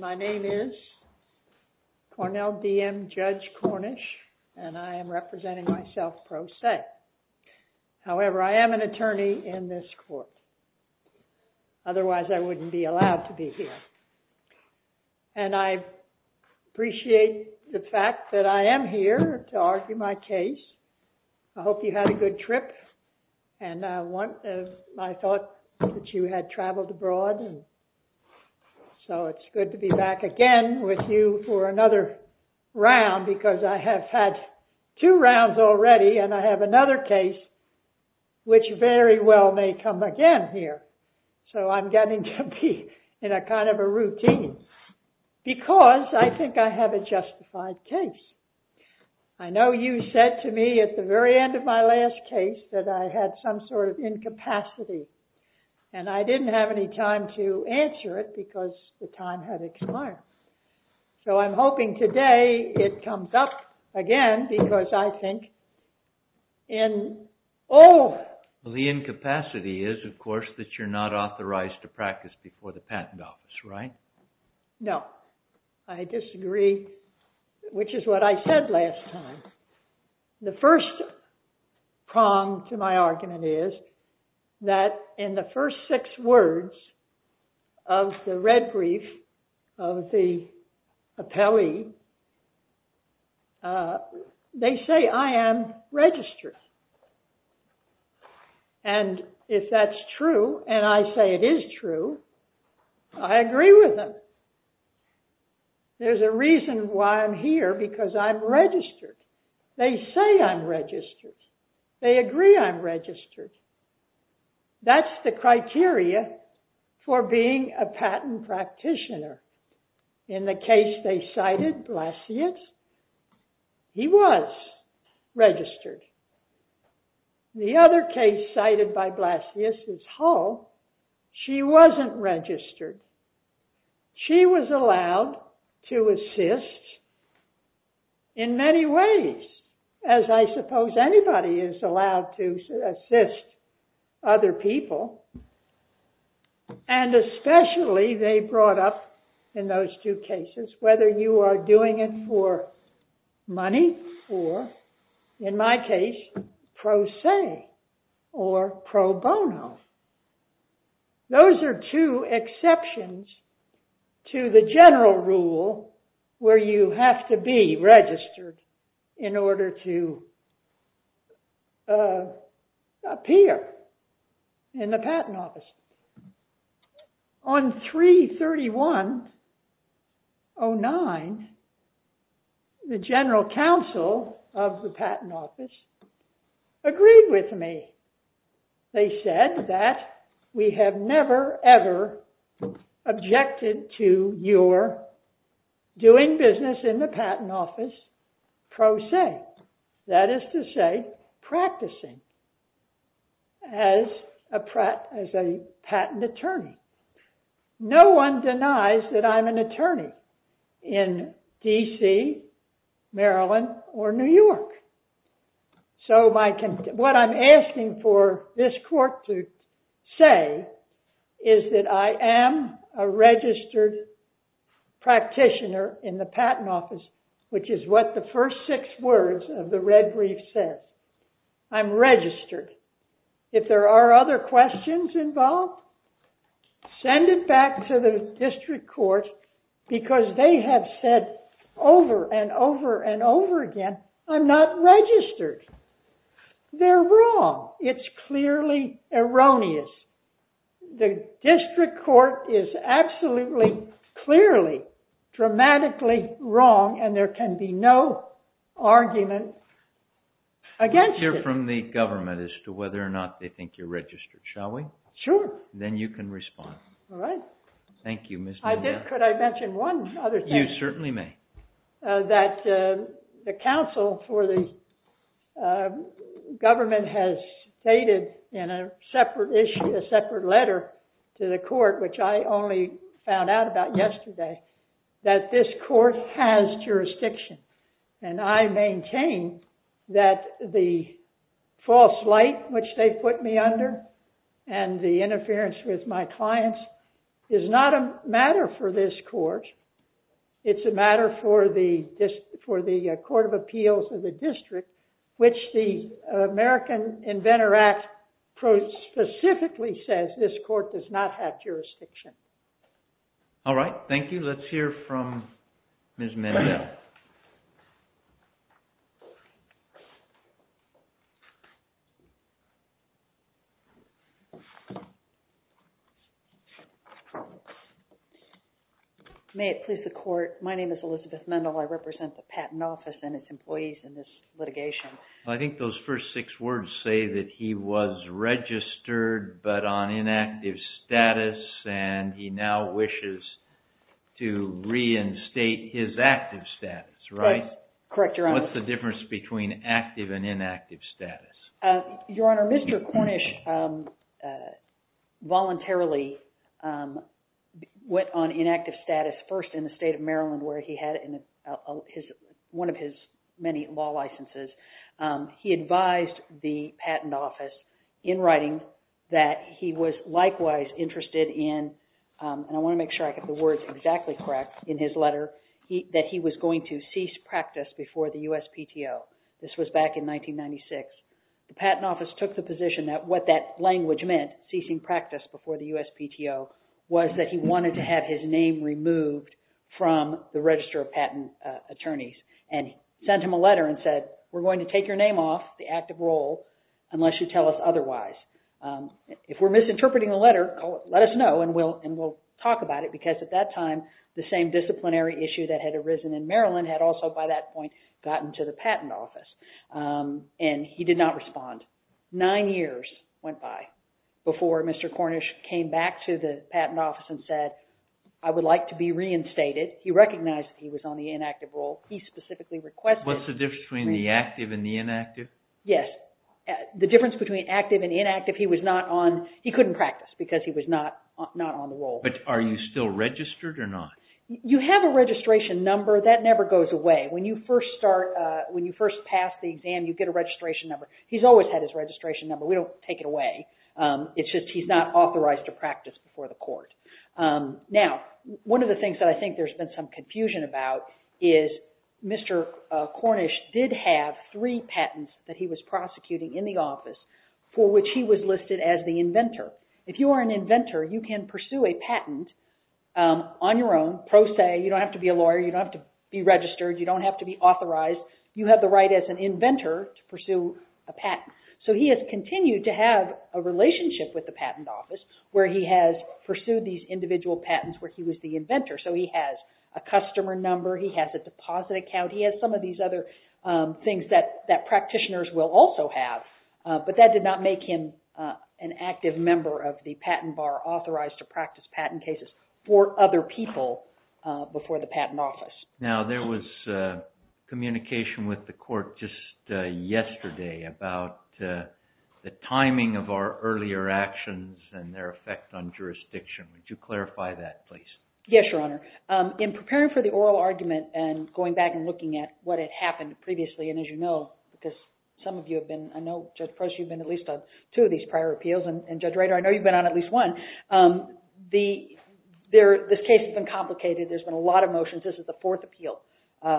My name is Cornell DM Judge Cornish and I am representing myself pro se. However, I am an attorney in this court. Otherwise I wouldn't be allowed to be here. And I appreciate the fact that I am here to argue my case. I hope you had a good trip and I thought that you had traveled abroad and so it's good to be back again with you for another round because I have had two rounds already and I have another case which very well may come again here. So I'm getting to be in a kind of a routine because I think I have a justified case. I know you said to me at the very end of my last case that I had some sort of incapacity and I didn't have any time to answer it because the time had expired. So I'm hoping today it comes up again because I think in all... Well the incapacity is of course that you're not authorized to practice before the patent office, right? No, I disagree which is what I said last time. The first prong to my argument is that in the first six words of the red brief of the appellee, they say I am registered. And if that's true and I say it is true, I agree with them. There's a reason why I'm here because I'm registered. They say I'm registered. They agree I'm registered. That's the criteria for being a The other case cited by Blasius is Hull. She wasn't registered. She was allowed to assist in many ways as I suppose anybody is allowed to assist other people. And especially they brought up in those two cases whether you are doing it for pro se or pro bono. Those are two exceptions to the general rule where you have to be registered in order to appear in the patent office. On 331-09, the general counsel of the patent office agreed with me. They said that we have never ever objected to your doing business in the patent office pro se. That is to say practicing as a patent attorney. No one denies that I'm an attorney in DC, Maryland or New York. So what I'm asking for this court to say is that I am a registered practitioner in the patent office, which is what the first six words of the red brief said. I'm registered. If there are other questions involved, send it back to the district court because they have said over and over and over again, I'm not registered. They're wrong. It's clearly erroneous. The district court is absolutely clearly dramatically wrong and there can be no argument against it. Hear from the government as to whether or not they think you're registered, shall we? Sure. Then you can respond. All right. Thank you. Could I mention one other thing? You certainly may. That the counsel for the government has stated in a separate issue, a separate letter to the court, which I only found out about yesterday, that this court has jurisdiction and I maintain that the false light which they put me under and the interference with my clients is not a matter for this court. It's a matter for the Court of Appeals of the district, which the American Inventor Act specifically says this court does not have jurisdiction. All right. Thank you. Let's hear from Ms. Mendell. May it please the court, my name is Elizabeth Mendell. I represent the Patent Office and its employees in this litigation. I think those first six words say that he was registered but on inactive status and he now wishes to reinstate his active status, right? Correct, Your Honor. What's the difference between active and inactive status? Your Honor, Mr. Cornish voluntarily went on inactive status first in the state of Maryland where he had one of his many law licenses. He advised the Patent Office in writing that he was likewise interested in, and I want to make sure I get the words exactly correct in his letter, that he was going to cease practice before the USPTO. This was back in 1996. The Patent Office took the position that what that language meant, ceasing practice before the USPTO, was that he wanted to have his name removed from the register of patent attorneys and sent him a letter and said, we're going to take your name off the active role unless you tell us otherwise. If we're misinterpreting the letter, let us know and we'll talk about it because at that time, the same disciplinary issue that had arisen in Maryland had also, by that point, gotten to the Patent Office and he did not respond. Nine years went by before Mr. Cornish came back to the Patent Office and said, I would like to be reinstated. He recognized that he was on the inactive role. He specifically requested... What's the difference between the active and the inactive? Yes. The difference between active and inactive, he was not on, he couldn't practice because he was not on the role. Are you still registered or not? You have a registration number. That never goes away. When you first pass the exam, you get a registration number. He's always had his registration number. We don't take it away. It's just he's not authorized to practice before the court. Now, one of the things that I think there's been some confusion about is Mr. Cornish did have three patents that he was prosecuting in the office for which he was listed as the inventor. If you are an inventor, you can pursue a patent on your own, pro se, you don't have to be a lawyer, you don't have to be registered, you don't have to be authorized. You have the right as an inventor to pursue a patent. So he has continued to have a relationship with the Patent Office where he has pursued these individual patents where he was the inventor. So he has a customer number, he has a deposit account, he has some of these other things that practitioners will also have, but that did not make him an active member of the patent bar authorized to practice patent cases for other people before the Patent Office. Now, there was communication with the court just yesterday about the timing of our earlier actions and their effect on jurisdiction. Would you clarify that, please? Yes, Your Honor. In preparing for the oral argument and going back and looking at what had happened previously, and as you know, because some of you have been, I know Judge Proce, you've been at least on two of these prior appeals, and Judge Rader, I know you've been on at least one. This case has been complicated. There's been a lot of motions. This is the fourth appeal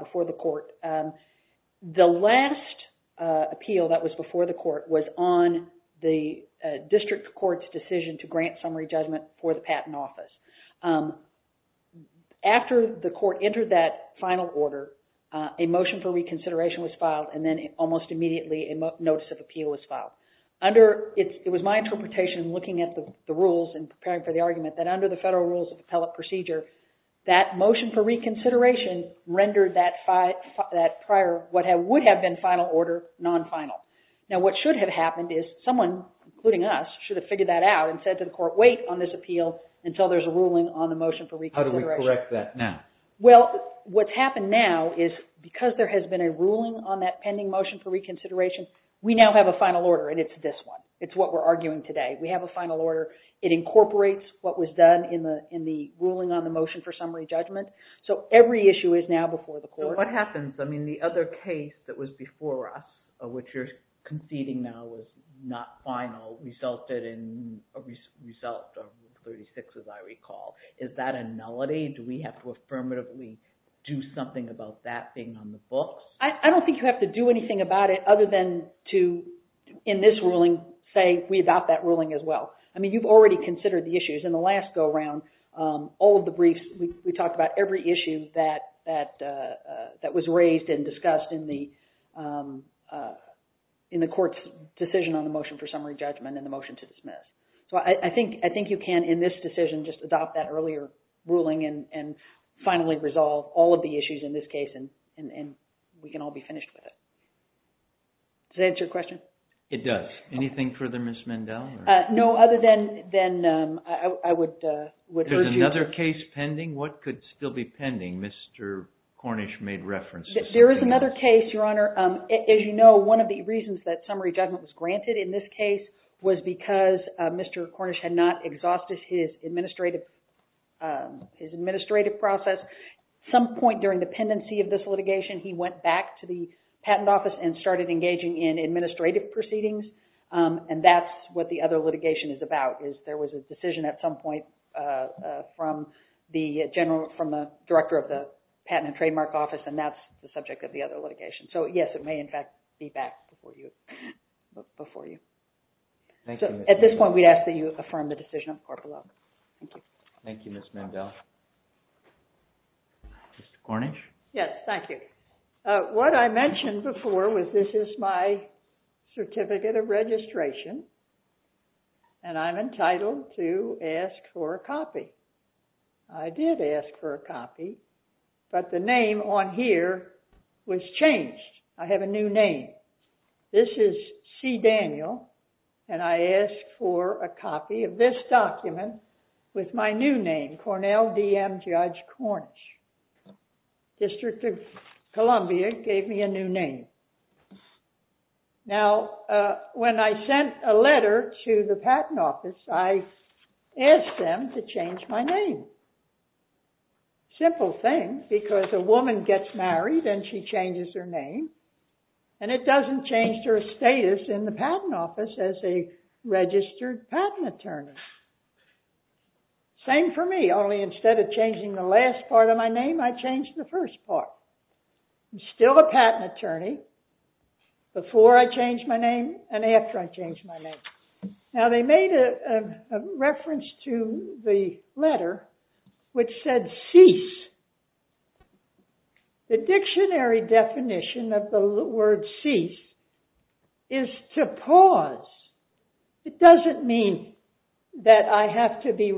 before the court. The last appeal that was before the court was on the District Court's decision to grant summary judgment for the Patent Office. After the court entered that final order, a motion for reconsideration was filed, and then almost immediately a notice of appeal was filed. It was my interpretation, looking at the rules and preparing for the argument, that under the federal rules of appellate procedure, that motion for reconsideration rendered that prior, what would have been final order, non-final. Now, what should have happened is someone, including us, should have figured that out and said to the court, wait on this appeal until there's a ruling on the motion for reconsideration. How do we correct that now? Well, what's happened now is because there has been a ruling on that pending motion for reconsideration, we now have a final order, and it's this one. It's what we're arguing today. We have a final order. It incorporates what was done in the ruling on the motion for summary judgment. So every issue is now before the court. So what happens? I mean, the other case that was before us, which you're conceding now was not final, resulted in a result of 36, as I recall. Is that a nullity? Do we have to affirmatively do something about that being on the books? I don't think you have to do anything about it other than to, in this ruling, say we adopt that ruling as well. I mean, you've already considered the issues. In the last go around, all of the briefs, we talked about every issue that was raised and discussed in the decision on the motion for summary judgment and the motion to dismiss. So I think you can, in this decision, just adopt that earlier ruling and finally resolve all of the issues in this case, and we can all be finished with it. Does that answer your question? It does. Anything further, Ms. Mendel? No, other than I would urge you— Is there another case pending? What could still be pending? Mr. Cornish made references— There is another case, Your Honor. As you know, one of the reasons that summary judgment was granted in this case was because Mr. Cornish had not exhausted his administrative process. Some point during the pendency of this litigation, he went back to the Patent Office and started engaging in administrative proceedings, and that's what the other litigation is about, is there was a decision at some point from the Director of the Patent and Trademark Office, and that's the subject of the other litigation. So, yes, it may, in fact, be back before you. At this point, we ask that you affirm the decision of Corporal Love. Thank you. Thank you, Ms. Mendel. Mr. Cornish? Yes, thank you. What I mentioned before was this is my certificate of registration, and I'm entitled to ask for a copy. I did ask for a copy, but the name on here was changed. I have a new name. This is C. Daniel, and I asked for a copy of this document with my new name, Cornell D.M. Judge Cornish. District of Columbia gave me a new name. Now, when I sent a letter to the Patent Office, I asked them to change my name. Simple thing, because a woman gets married and she changes her name, and it doesn't change her status in the Patent Office as a registered patent attorney. Same for me, only instead of changing the last part of my name, I changed the first part. I'm still a patent attorney before I changed my name and after I changed my name. Now, they made a reference to the letter which said, cease. The dictionary definition of the word cease is to pause. It doesn't mean that I have to be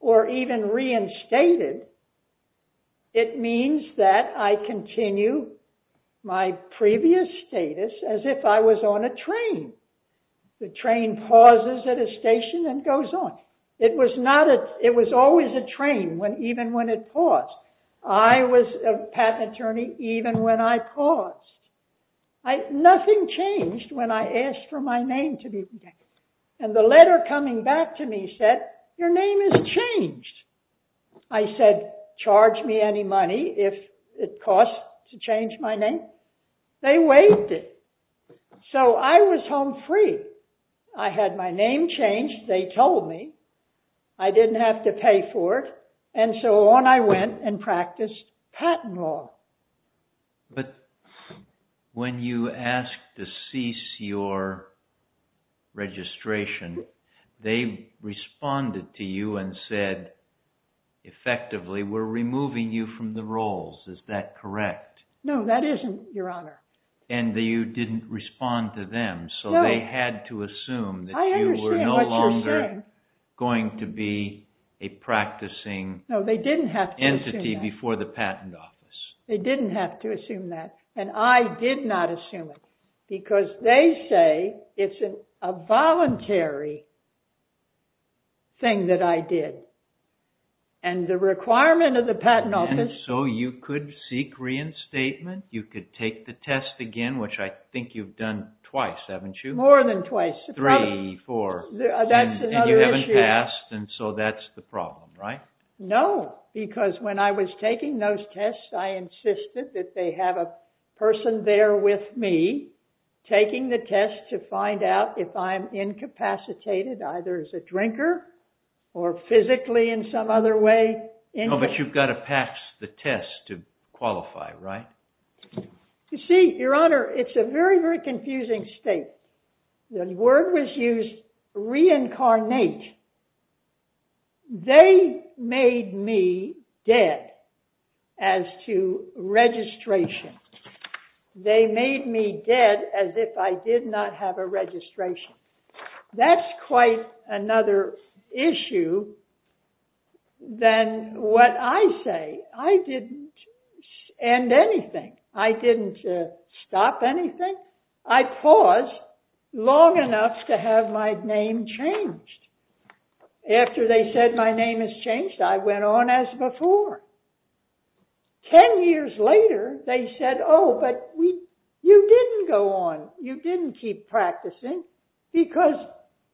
or even reinstated. It means that I continue my previous status as if I was on a train. The train pauses at a station and goes on. It was always a train even when it paused. I was a patent attorney even when I paused. Nothing changed when I asked for my name to be changed. I said, charge me any money if it costs to change my name. They waived it. So, I was home free. I had my name changed. They told me. I didn't have to pay for it, and so on I went and practiced patent law. But when you asked to cease your registration, they responded to you and said, effectively, we're removing you from the roles. Is that correct? No, that isn't, your honor. And you didn't respond to them. So, they had to assume that you were no longer going to be a practicing entity before the patent office. They didn't have to assume that, and I did not assume it because they say it's a voluntary thing that I did. And the requirement of the patent office... So, you could seek reinstatement. You could take the test again, which I think you've done twice, haven't you? More than twice. Three, four. That's another issue. And you haven't passed, and so that's the problem, right? No, because when I was taking those tests, I insisted that they have a person there with me taking the test to find out if I'm incapacitated, either as a drinker or physically in some other way. No, but you've got to pass the test to qualify, right? You see, your honor, it's a very, very confusing state. The word was used, reincarnate. They made me dead as to registration. They made me dead as if I did not have a registration. That's quite another issue than what I say. I didn't end anything. I didn't stop anything. I paused long enough to have my name changed. After they said my name is changed, I went on as before. Ten years later, they said, oh, but you didn't go on. You didn't keep practicing because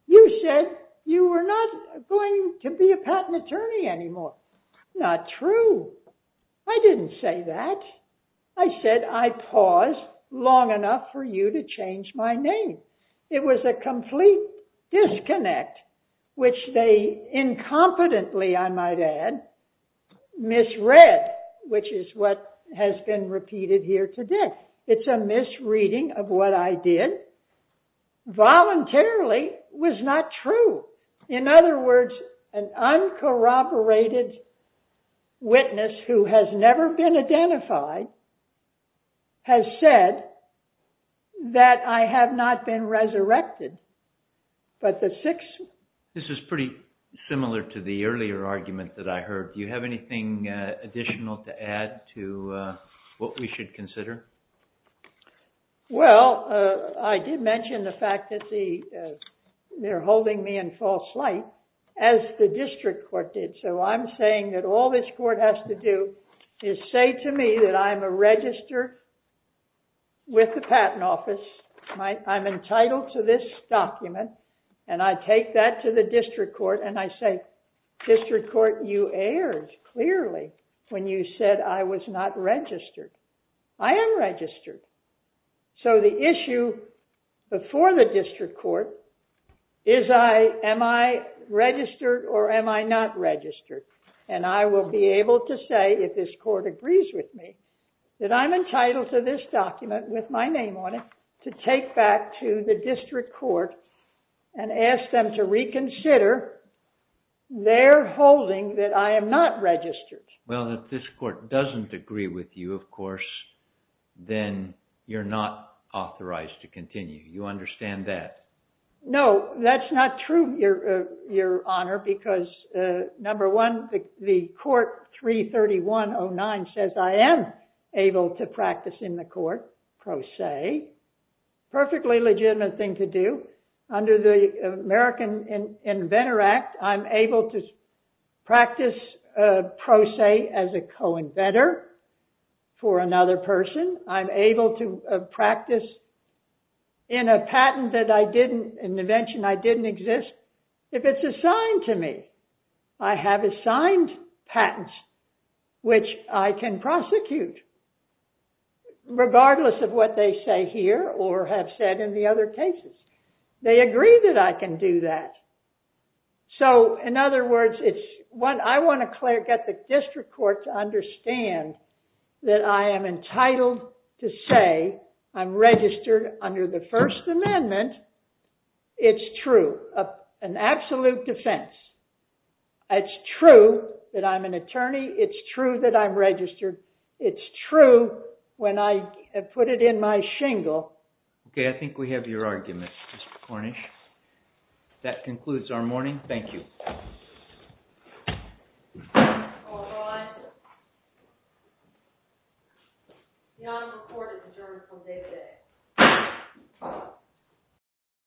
you said you were not going to be a patent attorney anymore. Not true. I didn't say that. I said I paused long enough for you to change my name. It was a complete disconnect, which they incompetently, I might add, misread, which is what has been repeated here today. It's a misreading of what I did. Voluntarily was not true. In other words, an uncorroborated witness who has never been identified has said that I have not been resurrected. This is pretty similar to the earlier argument that I heard. Do you have anything additional to add to what we should consider? Well, I did mention the fact that they're holding me in false light, as the district court did. So, I'm saying that all this court has to do is say to me that I'm a registrar with the patent office. I'm entitled to this document, and I take that to the district court, and I say, district court, you erred clearly when you said I was not registered. I am registered. So, the issue before the district court is am I registered or am I not registered? And I will be able to say, if this court agrees with me, that I'm entitled to this document with my name on it to take back to the district court and ask them to reconsider their holding that I am not registered. Well, if this court doesn't agree with you, of course, then you're not authorized to continue. You understand that? No, that's not true, Your Honor, because, number one, the court 33109 says I am able to practice in the court pro se, perfectly legitimate thing to do. Under the American Inventor Act, I'm able to practice pro se as a co-inventor for another person. I'm able to practice in a patent that I didn't, an invention I didn't exist, if it's assigned to me. I have signed patents which I can prosecute, regardless of what they say here or have said in the other cases. They agree that I can do that. So, in other words, it's what I want to clear, get the district court to understand that I am entitled to say I'm registered under the First Amendment. It's true, an absolute defense. It's true that I'm an attorney. It's true that I'm registered. It's true when I put it in my shingle. Okay, I think we have your argument, Mr. Cornish. That concludes our morning. Thank you.